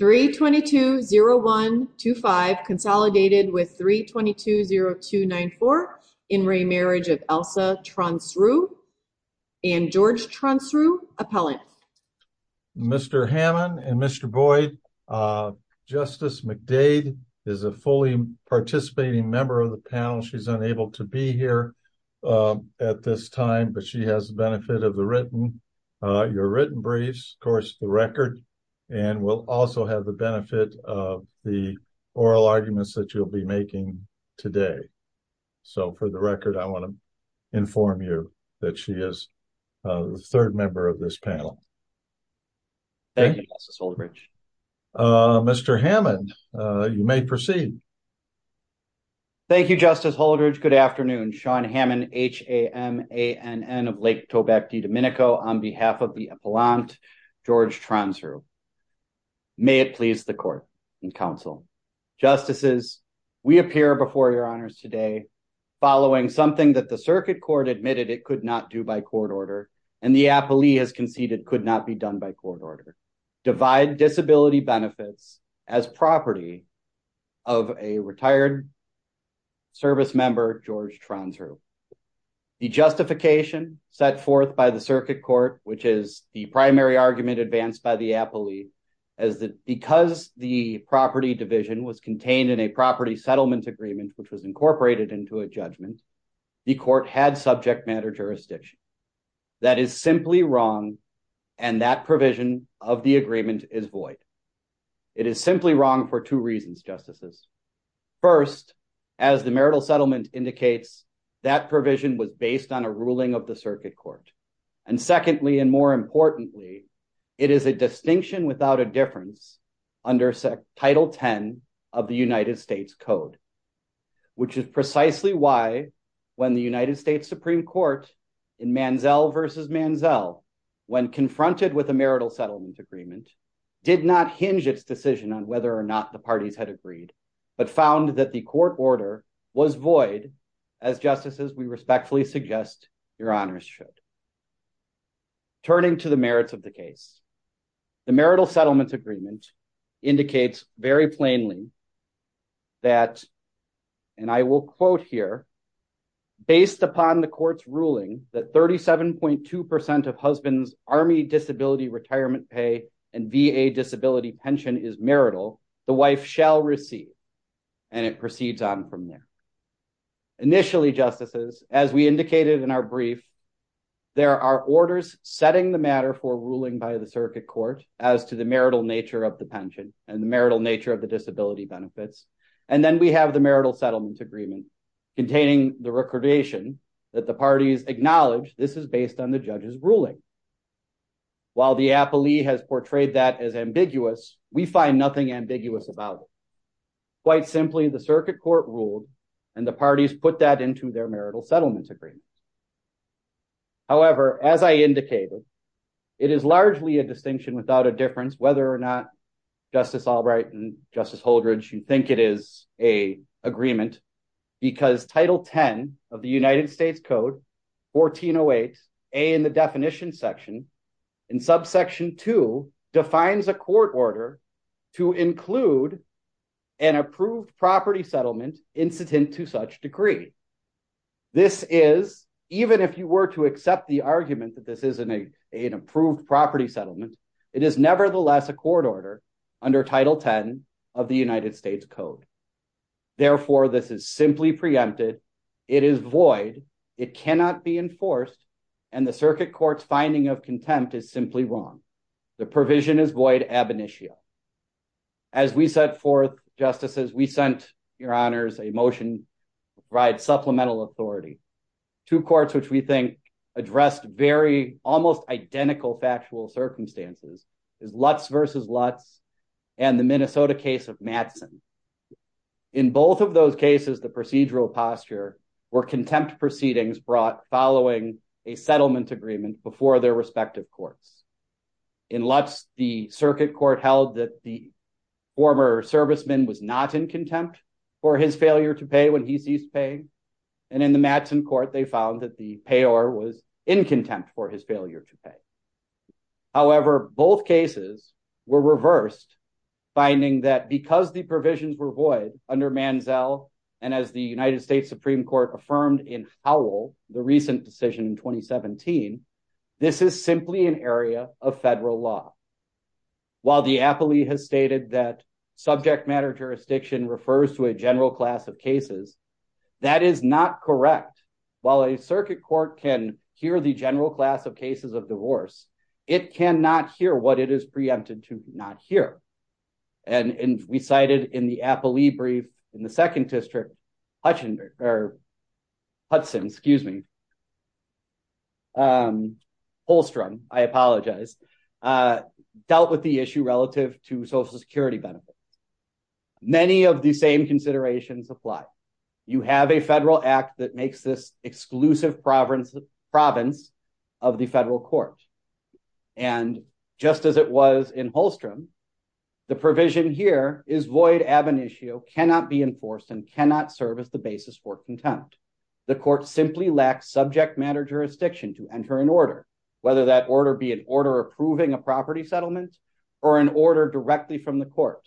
320125 consolidated with 320294 in remarriage of Elsa Tronsrue and George Tronsrue, appellant. Mr. Hammond and Mr. Boyd, Justice McDade is a fully participating member of the panel. She's unable to be here at this time but she has the benefit of your written briefs, of course the record, and will also have the benefit of the oral arguments that you'll be making today. So for the record I want to inform you that she is the third member of this panel. Thank you, Justice Holdridge. Mr. Hammond, you may proceed. Thank you, Justice Holdridge. Good afternoon. Sean Hammond, H-A-M-A-N-N of Lake Tobacco, Dominico, on behalf of the appellant George Tronsrue. May it please the court and counsel. Justices, we appear before your honors today following something that the circuit court admitted it could not do by court order and the appellee has conceded could not be done by court order. Divide disability benefits as property of a retired service member George Tronsrue. The justification set forth by the circuit court, which is the primary argument advanced by the appellee, is that because the property division was contained in a property settlement agreement, which was incorporated into a judgment, the court had subject matter jurisdiction. That is simply wrong and that is simply wrong for two reasons, Justices. First, as the marital settlement indicates, that provision was based on a ruling of the circuit court. And secondly, and more importantly, it is a distinction without a difference under Title 10 of the United States Code, which is precisely why when the United States Supreme Court in Manzell v. Manzell, when on whether or not the parties had agreed, but found that the court order was void, as Justices, we respectfully suggest your honors should. Turning to the merits of the case, the marital settlements agreement indicates very plainly that, and I will quote here, based upon the court's ruling that 37.2% of husbands' Army disability retirement pay and VA disability pension is marital, the wife shall receive. And it proceeds on from there. Initially, Justices, as we indicated in our brief, there are orders setting the matter for ruling by the circuit court as to the marital nature of the pension and the marital nature of the disability benefits. And then we have the marital settlement agreement containing the recordation that the ambiguous, we find nothing ambiguous about it. Quite simply, the circuit court ruled, and the parties put that into their marital settlement agreement. However, as I indicated, it is largely a distinction without a difference whether or not Justice Albright and Justice Holdrege, you think it is a agreement because Title 10 of the United States Code 1408, A in the definition section, in subsection two, defines a court order to include an approved property settlement incident to such degree. This is, even if you were to accept the argument that this is an approved property settlement, it is nevertheless a court order under Title 10 of the United States Code. Therefore, this is simply preempted. It is void. It cannot be enforced. And the circuit court's finding of contempt is simply wrong. The provision is void ab initio. As we set forth, Justices, we sent, Your Honors, a motion to provide supplemental authority to courts, which we think addressed very almost identical factual circumstances, is Lutz versus Lutz and the Minnesota case of Mattson. In both of those proceedings brought following a settlement agreement before their respective courts. In Lutz, the circuit court held that the former serviceman was not in contempt for his failure to pay when he ceased paying. And in the Mattson court, they found that the payor was in contempt for his failure to pay. However, both cases were reversed, finding that because the provisions were void under Manzell, and as the United States Supreme Court affirmed in Howell, the recent decision in 2017, this is simply an area of federal law. While the appellee has stated that subject matter jurisdiction refers to a general class of cases, that is not correct. While a circuit court can hear the general class of cases of divorce, it cannot hear what it is in the second district, Hudson, Holstrom, I apologize, dealt with the issue relative to social security benefits. Many of the same considerations apply. You have a federal act that makes this exclusive province of the federal court. And just as it was in Holstrom, the provision here is void ab initio, cannot be enforced and cannot serve as the basis for contempt. The court simply lacks subject matter jurisdiction to enter an order, whether that order be an order approving a property settlement or an order directly from the court.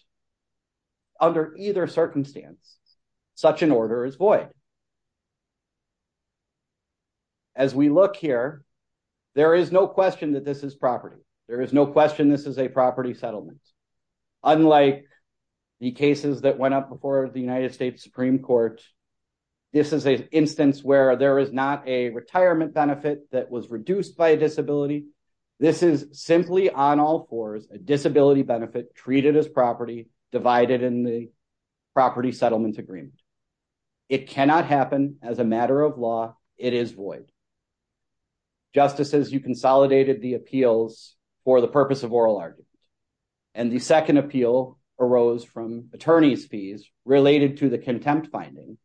Under either circumstance, such an order is void. As we look here, there is no question that this is property. There is no question this is a property settlement. Unlike the cases that went up before the United States Supreme Court, this is an instance where there is not a retirement benefit that was reduced by a disability. This is simply on all fours, a disability benefit treated as property divided in the property settlement agreement. It cannot happen as a matter of law. It is void. Justices, you consolidated the appeals for the purpose of oral arguments. And the second appeal arose from attorney's fees related to the contempt finding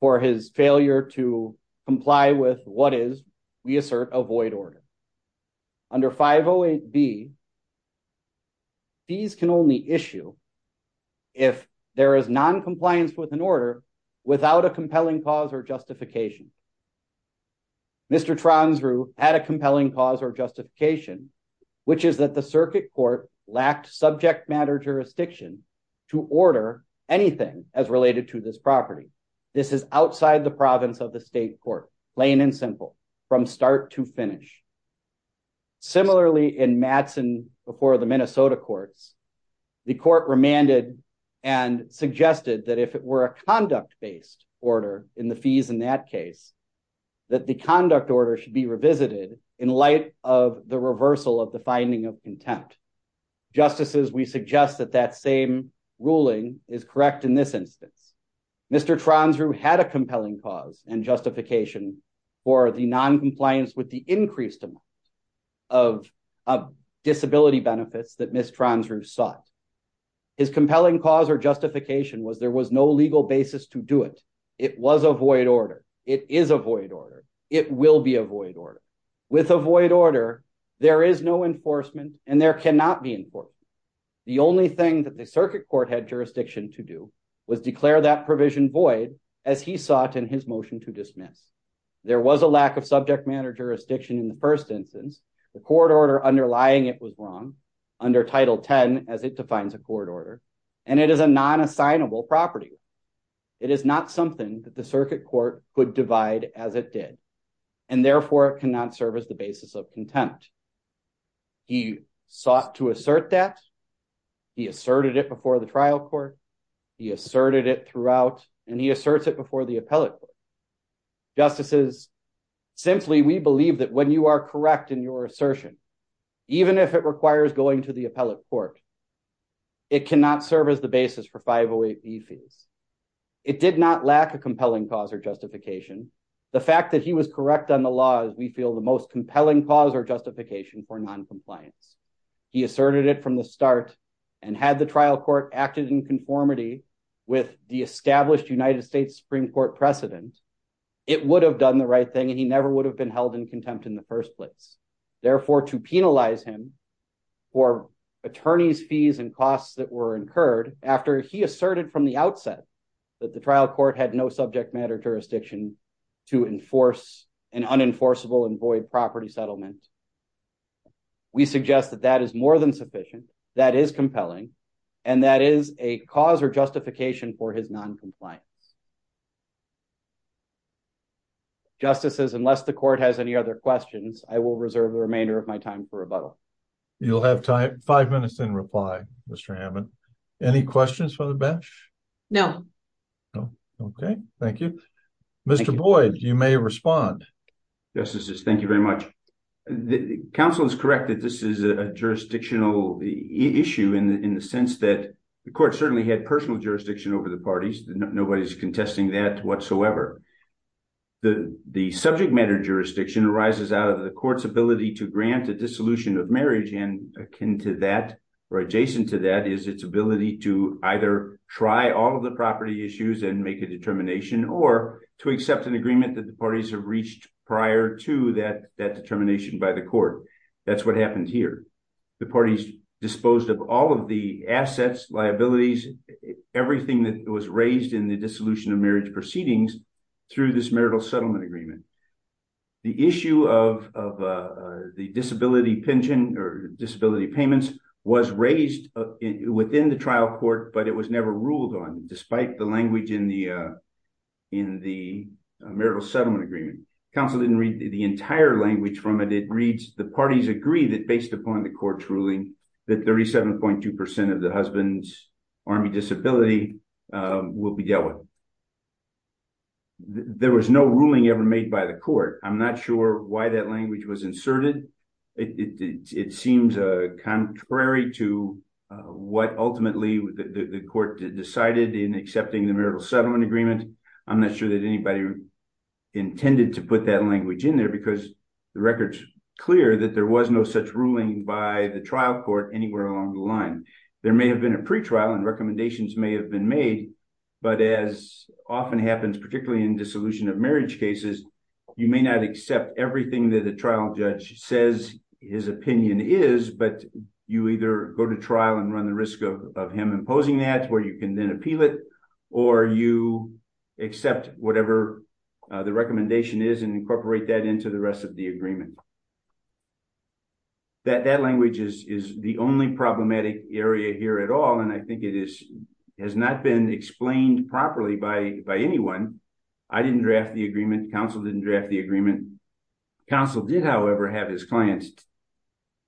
for his failure to comply with what is, we assert, a void order. Under 508B, fees can only issue if there is noncompliance with an order without a compelling cause or justification. Mr. Transrue had a compelling cause or justification, which is that the circuit court lacked subject matter jurisdiction to order anything as related to this property. This is outside the province of the state court, plain and simple, from start to finish. Similarly, in Mattson before the Minnesota courts, the court remanded and suggested that if it were a conduct based order in the fees in that case, that the conduct order should be revisited in light of the reversal of the finding of contempt. Justices, we suggest that that same ruling is correct in this instance. Mr. Transrue had a compelling cause and justification for the noncompliance with the increased amount of disability benefits that Ms. Transrue sought. His compelling cause or justification was there was no legal basis to do it. It was a void order. It is a void order. It will be a void order. With a void order, there is no enforcement and there cannot be enforcement. The only thing that the circuit court had jurisdiction to do was declare that provision void as he sought in his motion to dismiss. There was a lack of subject matter jurisdiction in the first instance. The court order underlying it was wrong, under Title 10 as it defines a court order, and it is a non-assignable property. It is not something that the circuit court could divide as it did, and therefore, it cannot serve as the basis of contempt. He sought to assert that. He asserted it before the trial court. He asserted it throughout, and he asserts it before the appellate court. Justices, simply, we believe that when you are serve as the basis for 508B fees. It did not lack a compelling cause or justification. The fact that he was correct on the law is, we feel, the most compelling cause or justification for noncompliance. He asserted it from the start and had the trial court acted in conformity with the established United States Supreme Court precedent, it would have done the right thing, and he never would have been held in contempt in the first place. Therefore, to penalize him for attorney's fees and costs that were incurred after he asserted from the outset that the trial court had no subject matter jurisdiction to enforce an unenforceable and void property settlement, we suggest that that is more than sufficient, that is compelling, and that is a cause or justification for his noncompliance. Justices, unless the court has any other questions, I will reserve the remainder of my time for rebuttal. You'll have five minutes in reply, Mr. Hammond. Any questions for the bench? No. Okay, thank you. Mr. Boyd, you may respond. Justices, thank you very much. The counsel is correct that this is a jurisdictional issue in the sense that the court certainly had personal jurisdiction over the parties. Nobody's contesting that whatsoever. The subject matter jurisdiction arises out of the court's ability to grant a dissolution of marriage, and akin to that or adjacent to that is its ability to either try all of the property issues and make a determination or to accept an agreement that the parties have reached prior to that determination by the court. That's what happened here. The parties disposed of all of the assets, liabilities, everything that was raised in the dissolution of marriage proceedings through this marital settlement agreement. The issue of the disability pension or disability payments was raised within the trial court, but it was never ruled on despite the language in the marital settlement agreement. Counsel didn't read the entire language from it. The parties agree that based upon the court's ruling that 37.2 percent of the husband's army disability will be dealt with. There was no ruling ever made by the court. I'm not sure why that language was inserted. It seems contrary to what ultimately the court decided in accepting the marital settlement agreement. I'm not sure that anybody intended to put that language in there because the record's clear that there was no such ruling by the trial court anywhere along the line. There may have been a pretrial and recommendations may have been made, but as often happens, particularly in dissolution of marriage cases, you may not accept everything that the trial judge says his opinion is, but you either go to trial and run the risk of him imposing that where you can then appeal it or you accept whatever the recommendation is and incorporate that into the rest of the agreement. That language is the only problematic area here at all, and I think it is has not been explained properly by anyone. I didn't draft the agreement. Counsel didn't draft the agreement. Counsel did, however, have his client's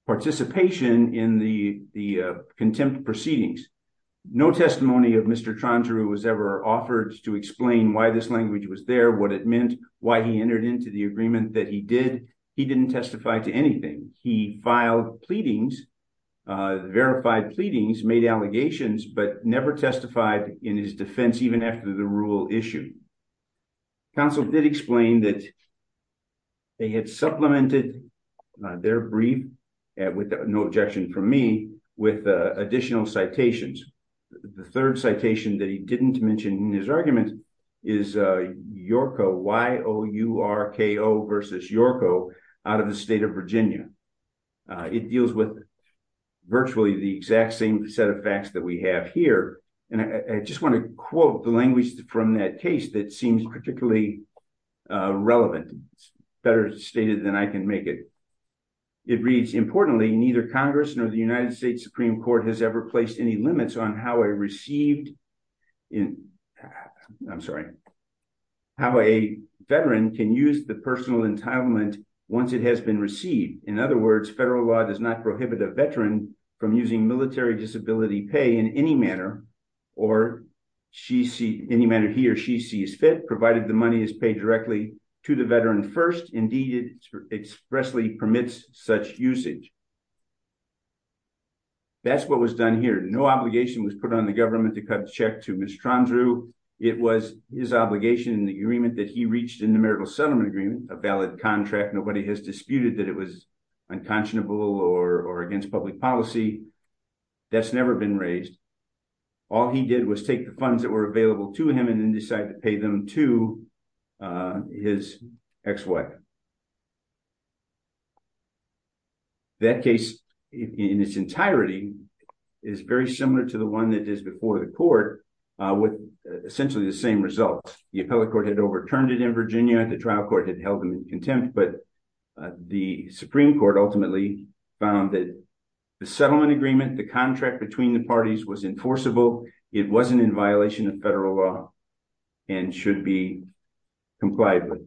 participation in the contempt proceedings. No testimony of Mr. Trondru was ever offered to explain why this language was there, what it meant, why he entered into the agreement that he did. He didn't testify to anything. He filed pleadings, verified pleadings, made allegations, but never testified in his defense even after the rule issued. Counsel did explain that they had supplemented their brief, with no objection from me, with additional citations. The third citation that he didn't mention in his argument is Yorko, Y-O-U-R-K-O versus Yorko, out of the state of Virginia. It deals with virtually the exact same set of facts that we have here, and I just want to quote the language from that case that seems particularly relevant, better stated than I can make it. It reads, importantly, neither Congress nor the United States Supreme Court has ever placed any limits on how a received in, I'm sorry, how a veteran can use the personal entitlement once it has been received. In other words, federal law does not prohibit a veteran from using military disability pay in any manner, or any manner he or she sees fit, provided the money is paid directly to the veteran first. Indeed, it expressly permits such usage. That's what was done here. No obligation was put on the government to cut the check to Mr. Trondru. It was his obligation in the agreement that he reached in the marital settlement agreement, a valid contract. Nobody has disputed that it was unconscionable or against public policy. That's never been raised. All he did was take the funds that were available to him, and decide to pay them to his ex-wife. That case, in its entirety, is very similar to the one that is before the court, with essentially the same results. The appellate court had overturned it in Virginia. The trial court had held him in contempt, but the Supreme Court ultimately found that the settlement agreement, the contract between the parties was enforceable. It wasn't in violation of federal law, and should be complied with.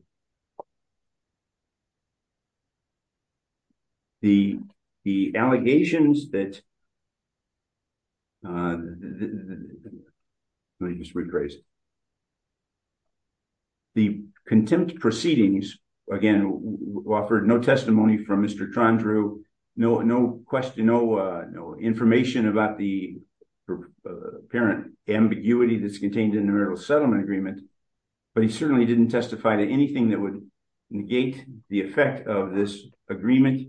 The allegations that... The contempt proceedings, again, offered no testimony from Mr. Trondru. No information about the apparent ambiguity that's contained in the marital settlement agreement, but he certainly didn't testify to anything that would negate the effect of this agreement,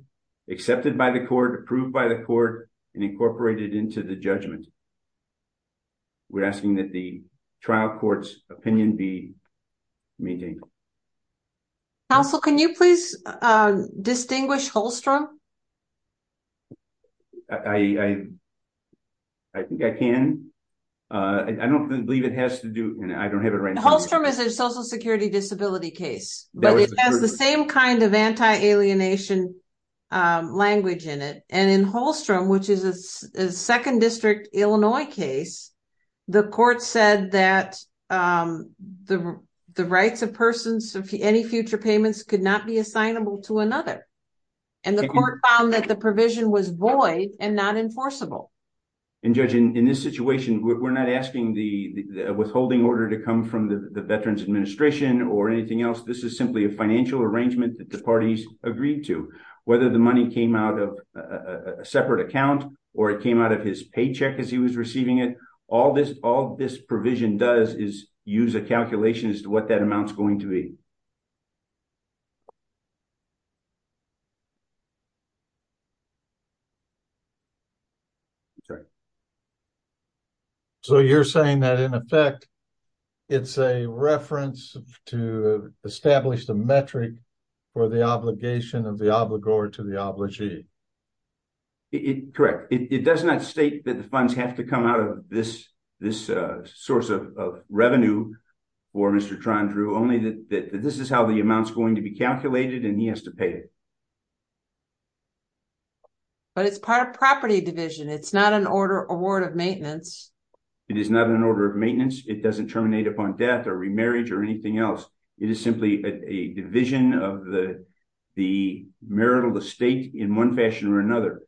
accepted by the court, approved by the court, and incorporated into the judgment. We're asking that the trial court's opinion be maintained. Counsel, can you please distinguish Holstrom? I think I can. I don't believe it has to do... I don't have it right now. Holstrom is a social security disability case, but it has the same kind of anti-alienation language in it. In Holstrom, which is a Second District, Illinois case, the court said that the rights of persons of any future payments could not be assignable to another, and the court found that the provision was void and not enforceable. Judge, in this situation, we're not asking the withholding order to come from the Veterans Administration or anything else. This is simply a financial arrangement that the parties agreed to. Whether the money came out of a separate account, or it came out of his paycheck as he was receiving it, all this provision does is use a calculation as to what that amount is going to be. So you're saying that, in effect, it's a reference to establish the metric for the obligation of the obligor to the obligee. Correct. It does not state that the funds have to come out of this source of revenue for Mr. Trandreau, only that this is how the amount is going to be calculated, and he has to pay it. But it's part of property division. It's not an order of maintenance. It is not an order of maintenance. It doesn't terminate upon death or remarriage or anything else. It is simply a division of the marital estate in one fashion or another.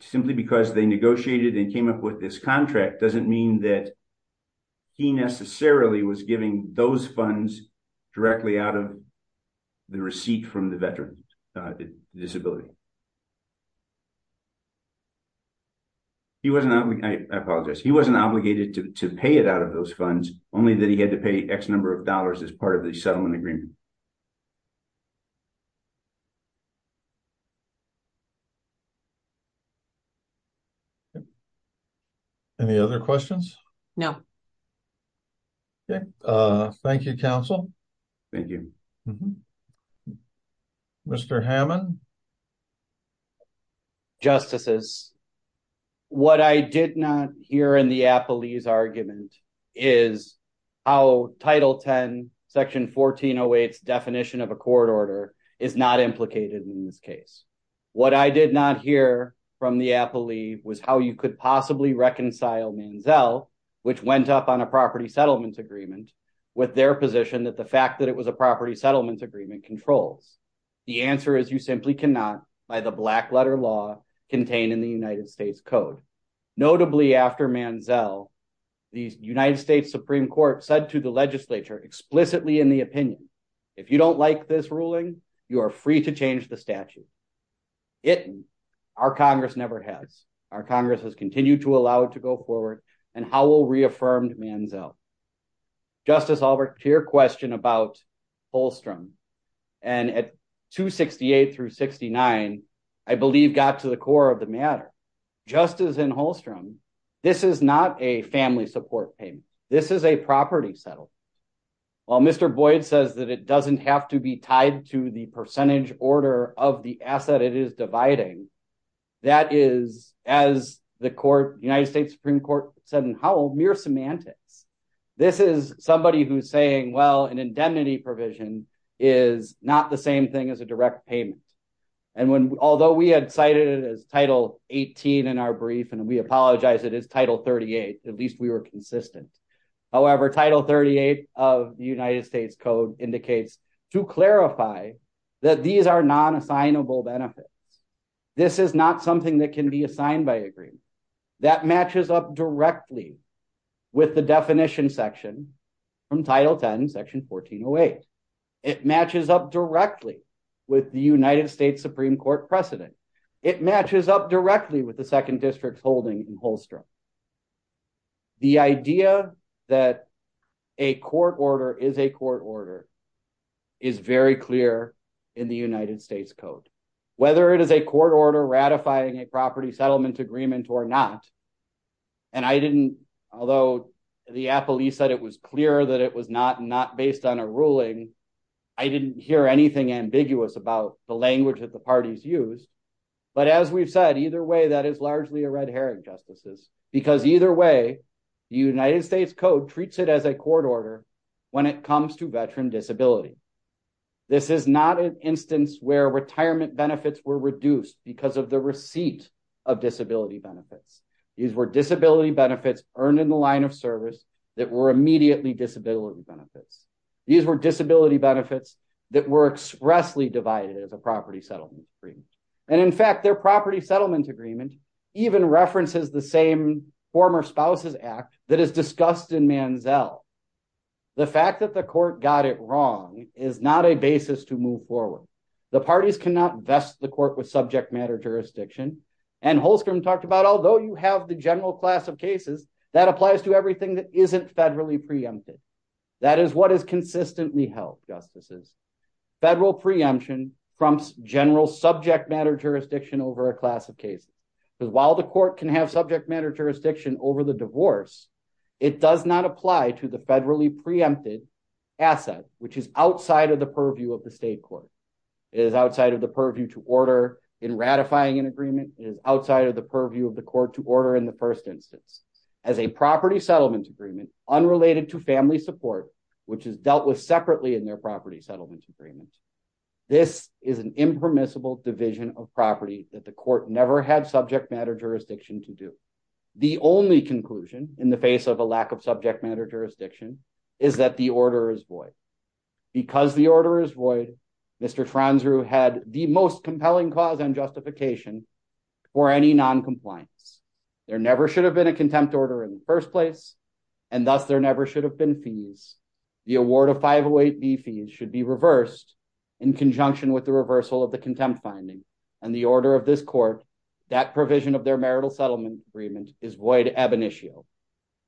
Simply because they negotiated and came up with this contract doesn't mean that he necessarily was giving those funds directly out of the receipt from the veteran disability. He wasn't, I apologize, he wasn't obligated to pay it out of those funds, only that he had to pay X number of dollars as part of the settlement agreement. Any other questions? No. Thank you, counsel. Thank you. Mr. Hammond? Thank you, justices. What I did not hear in the Appelee's argument is how Title X, Section 1408's definition of a court order is not implicated in this case. What I did not hear from the Applee was how you could possibly reconcile Manziel, which went up on a property settlement agreement, with their position that the fact that it was a property settlement agreement controls. The answer is you simply cannot by the black letter law contained in the United States Code. Notably after Manziel, the United States Supreme Court said to the legislature explicitly in the opinion, if you don't like this ruling, you are free to change the statute. It, our Congress never has. Our Congress has continued to allow it to go forward and Howell reaffirmed Manziel. Justice Albrecht, to your question about Holstrom and at 268 through 69, I believe got to the core of the matter. Just as in Holstrom, this is not a family support payment. This is a property settlement. While Mr. Boyd says that it doesn't have to be tied to the percentage order of the This is somebody who's saying, well, an indemnity provision is not the same thing as a direct payment. And when, although we had cited it as title 18 in our brief, and we apologize, it is title 38. At least we were consistent. However, title 38 of the United States Code indicates to clarify that these are non-assignable benefits. This is not something that can be assigned by That matches up directly with the definition section from title 10 section 1408. It matches up directly with the United States Supreme Court precedent. It matches up directly with the second district's holding in Holstrom. The idea that a court order is a court order is very clear in the United States Code. Whether it is a court order ratifying a property settlement agreement or not, and I didn't, although the police said it was clear that it was not based on a ruling, I didn't hear anything ambiguous about the language that the parties use. But as we've said, either way, that is largely a red herring, Justices, because either way, the United States Code treats it as a court order when it comes to veteran disability. This is not an instance where retirement benefits were reduced because of the receipt of disability benefits. These were disability benefits earned in the line of service that were immediately disability benefits. These were disability benefits that were expressly divided as a property settlement agreement. And in fact, their property settlement agreement even references the same former spouses act that is discussed in Manziel. The fact that the court got it wrong is not a basis to move forward. The parties cannot vest the court with subject matter jurisdiction. And Holstrom talked about, although you have the general class of cases, that applies to everything that isn't federally preempted. That is what is consistently held, Justices. Federal preemption prompts general subject matter jurisdiction over a class of cases. Because while the court can have subject matter jurisdiction over the divorce, it does not apply to the federally preempted asset, which is outside of the purview of the state court. It is outside of the purview to order in ratifying an agreement. It is outside of the purview of the court to order in the first instance. As a property settlement agreement, unrelated to family support, which is dealt with separately in their property settlement agreement, this is an impermissible division of property that the court never had subject matter jurisdiction to The only conclusion in the face of a lack of subject matter jurisdiction is that the order is void. Because the order is void, Mr. Transrue had the most compelling cause and justification for any non-compliance. There never should have been a contempt order in the first place, and thus there never should have been fees. The award of 508B fees should be reversed in conjunction with the reversal of the contempt finding. And the order of this court, that provision of their marital settlement agreement, is void ab initio.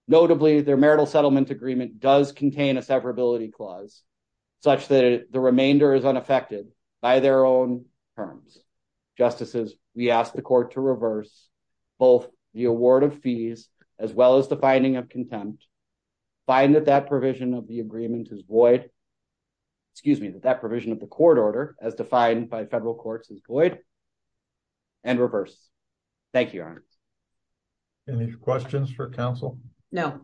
Notably, their marital settlement agreement does contain a severability clause such that the remainder is unaffected by their own terms. Justices, we ask the court to reverse both the award of fees as well as the finding of contempt, find that that provision of the agreement is void, excuse me, that provision of the court order as defined by federal courts is void, and reverse. Thank you, Your Honor. Any questions for counsel? No.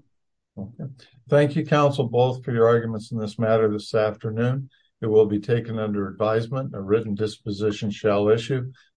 Thank you, counsel, both for your arguments in this matter this afternoon. It will be taken under advisement. A written disposition shall issue.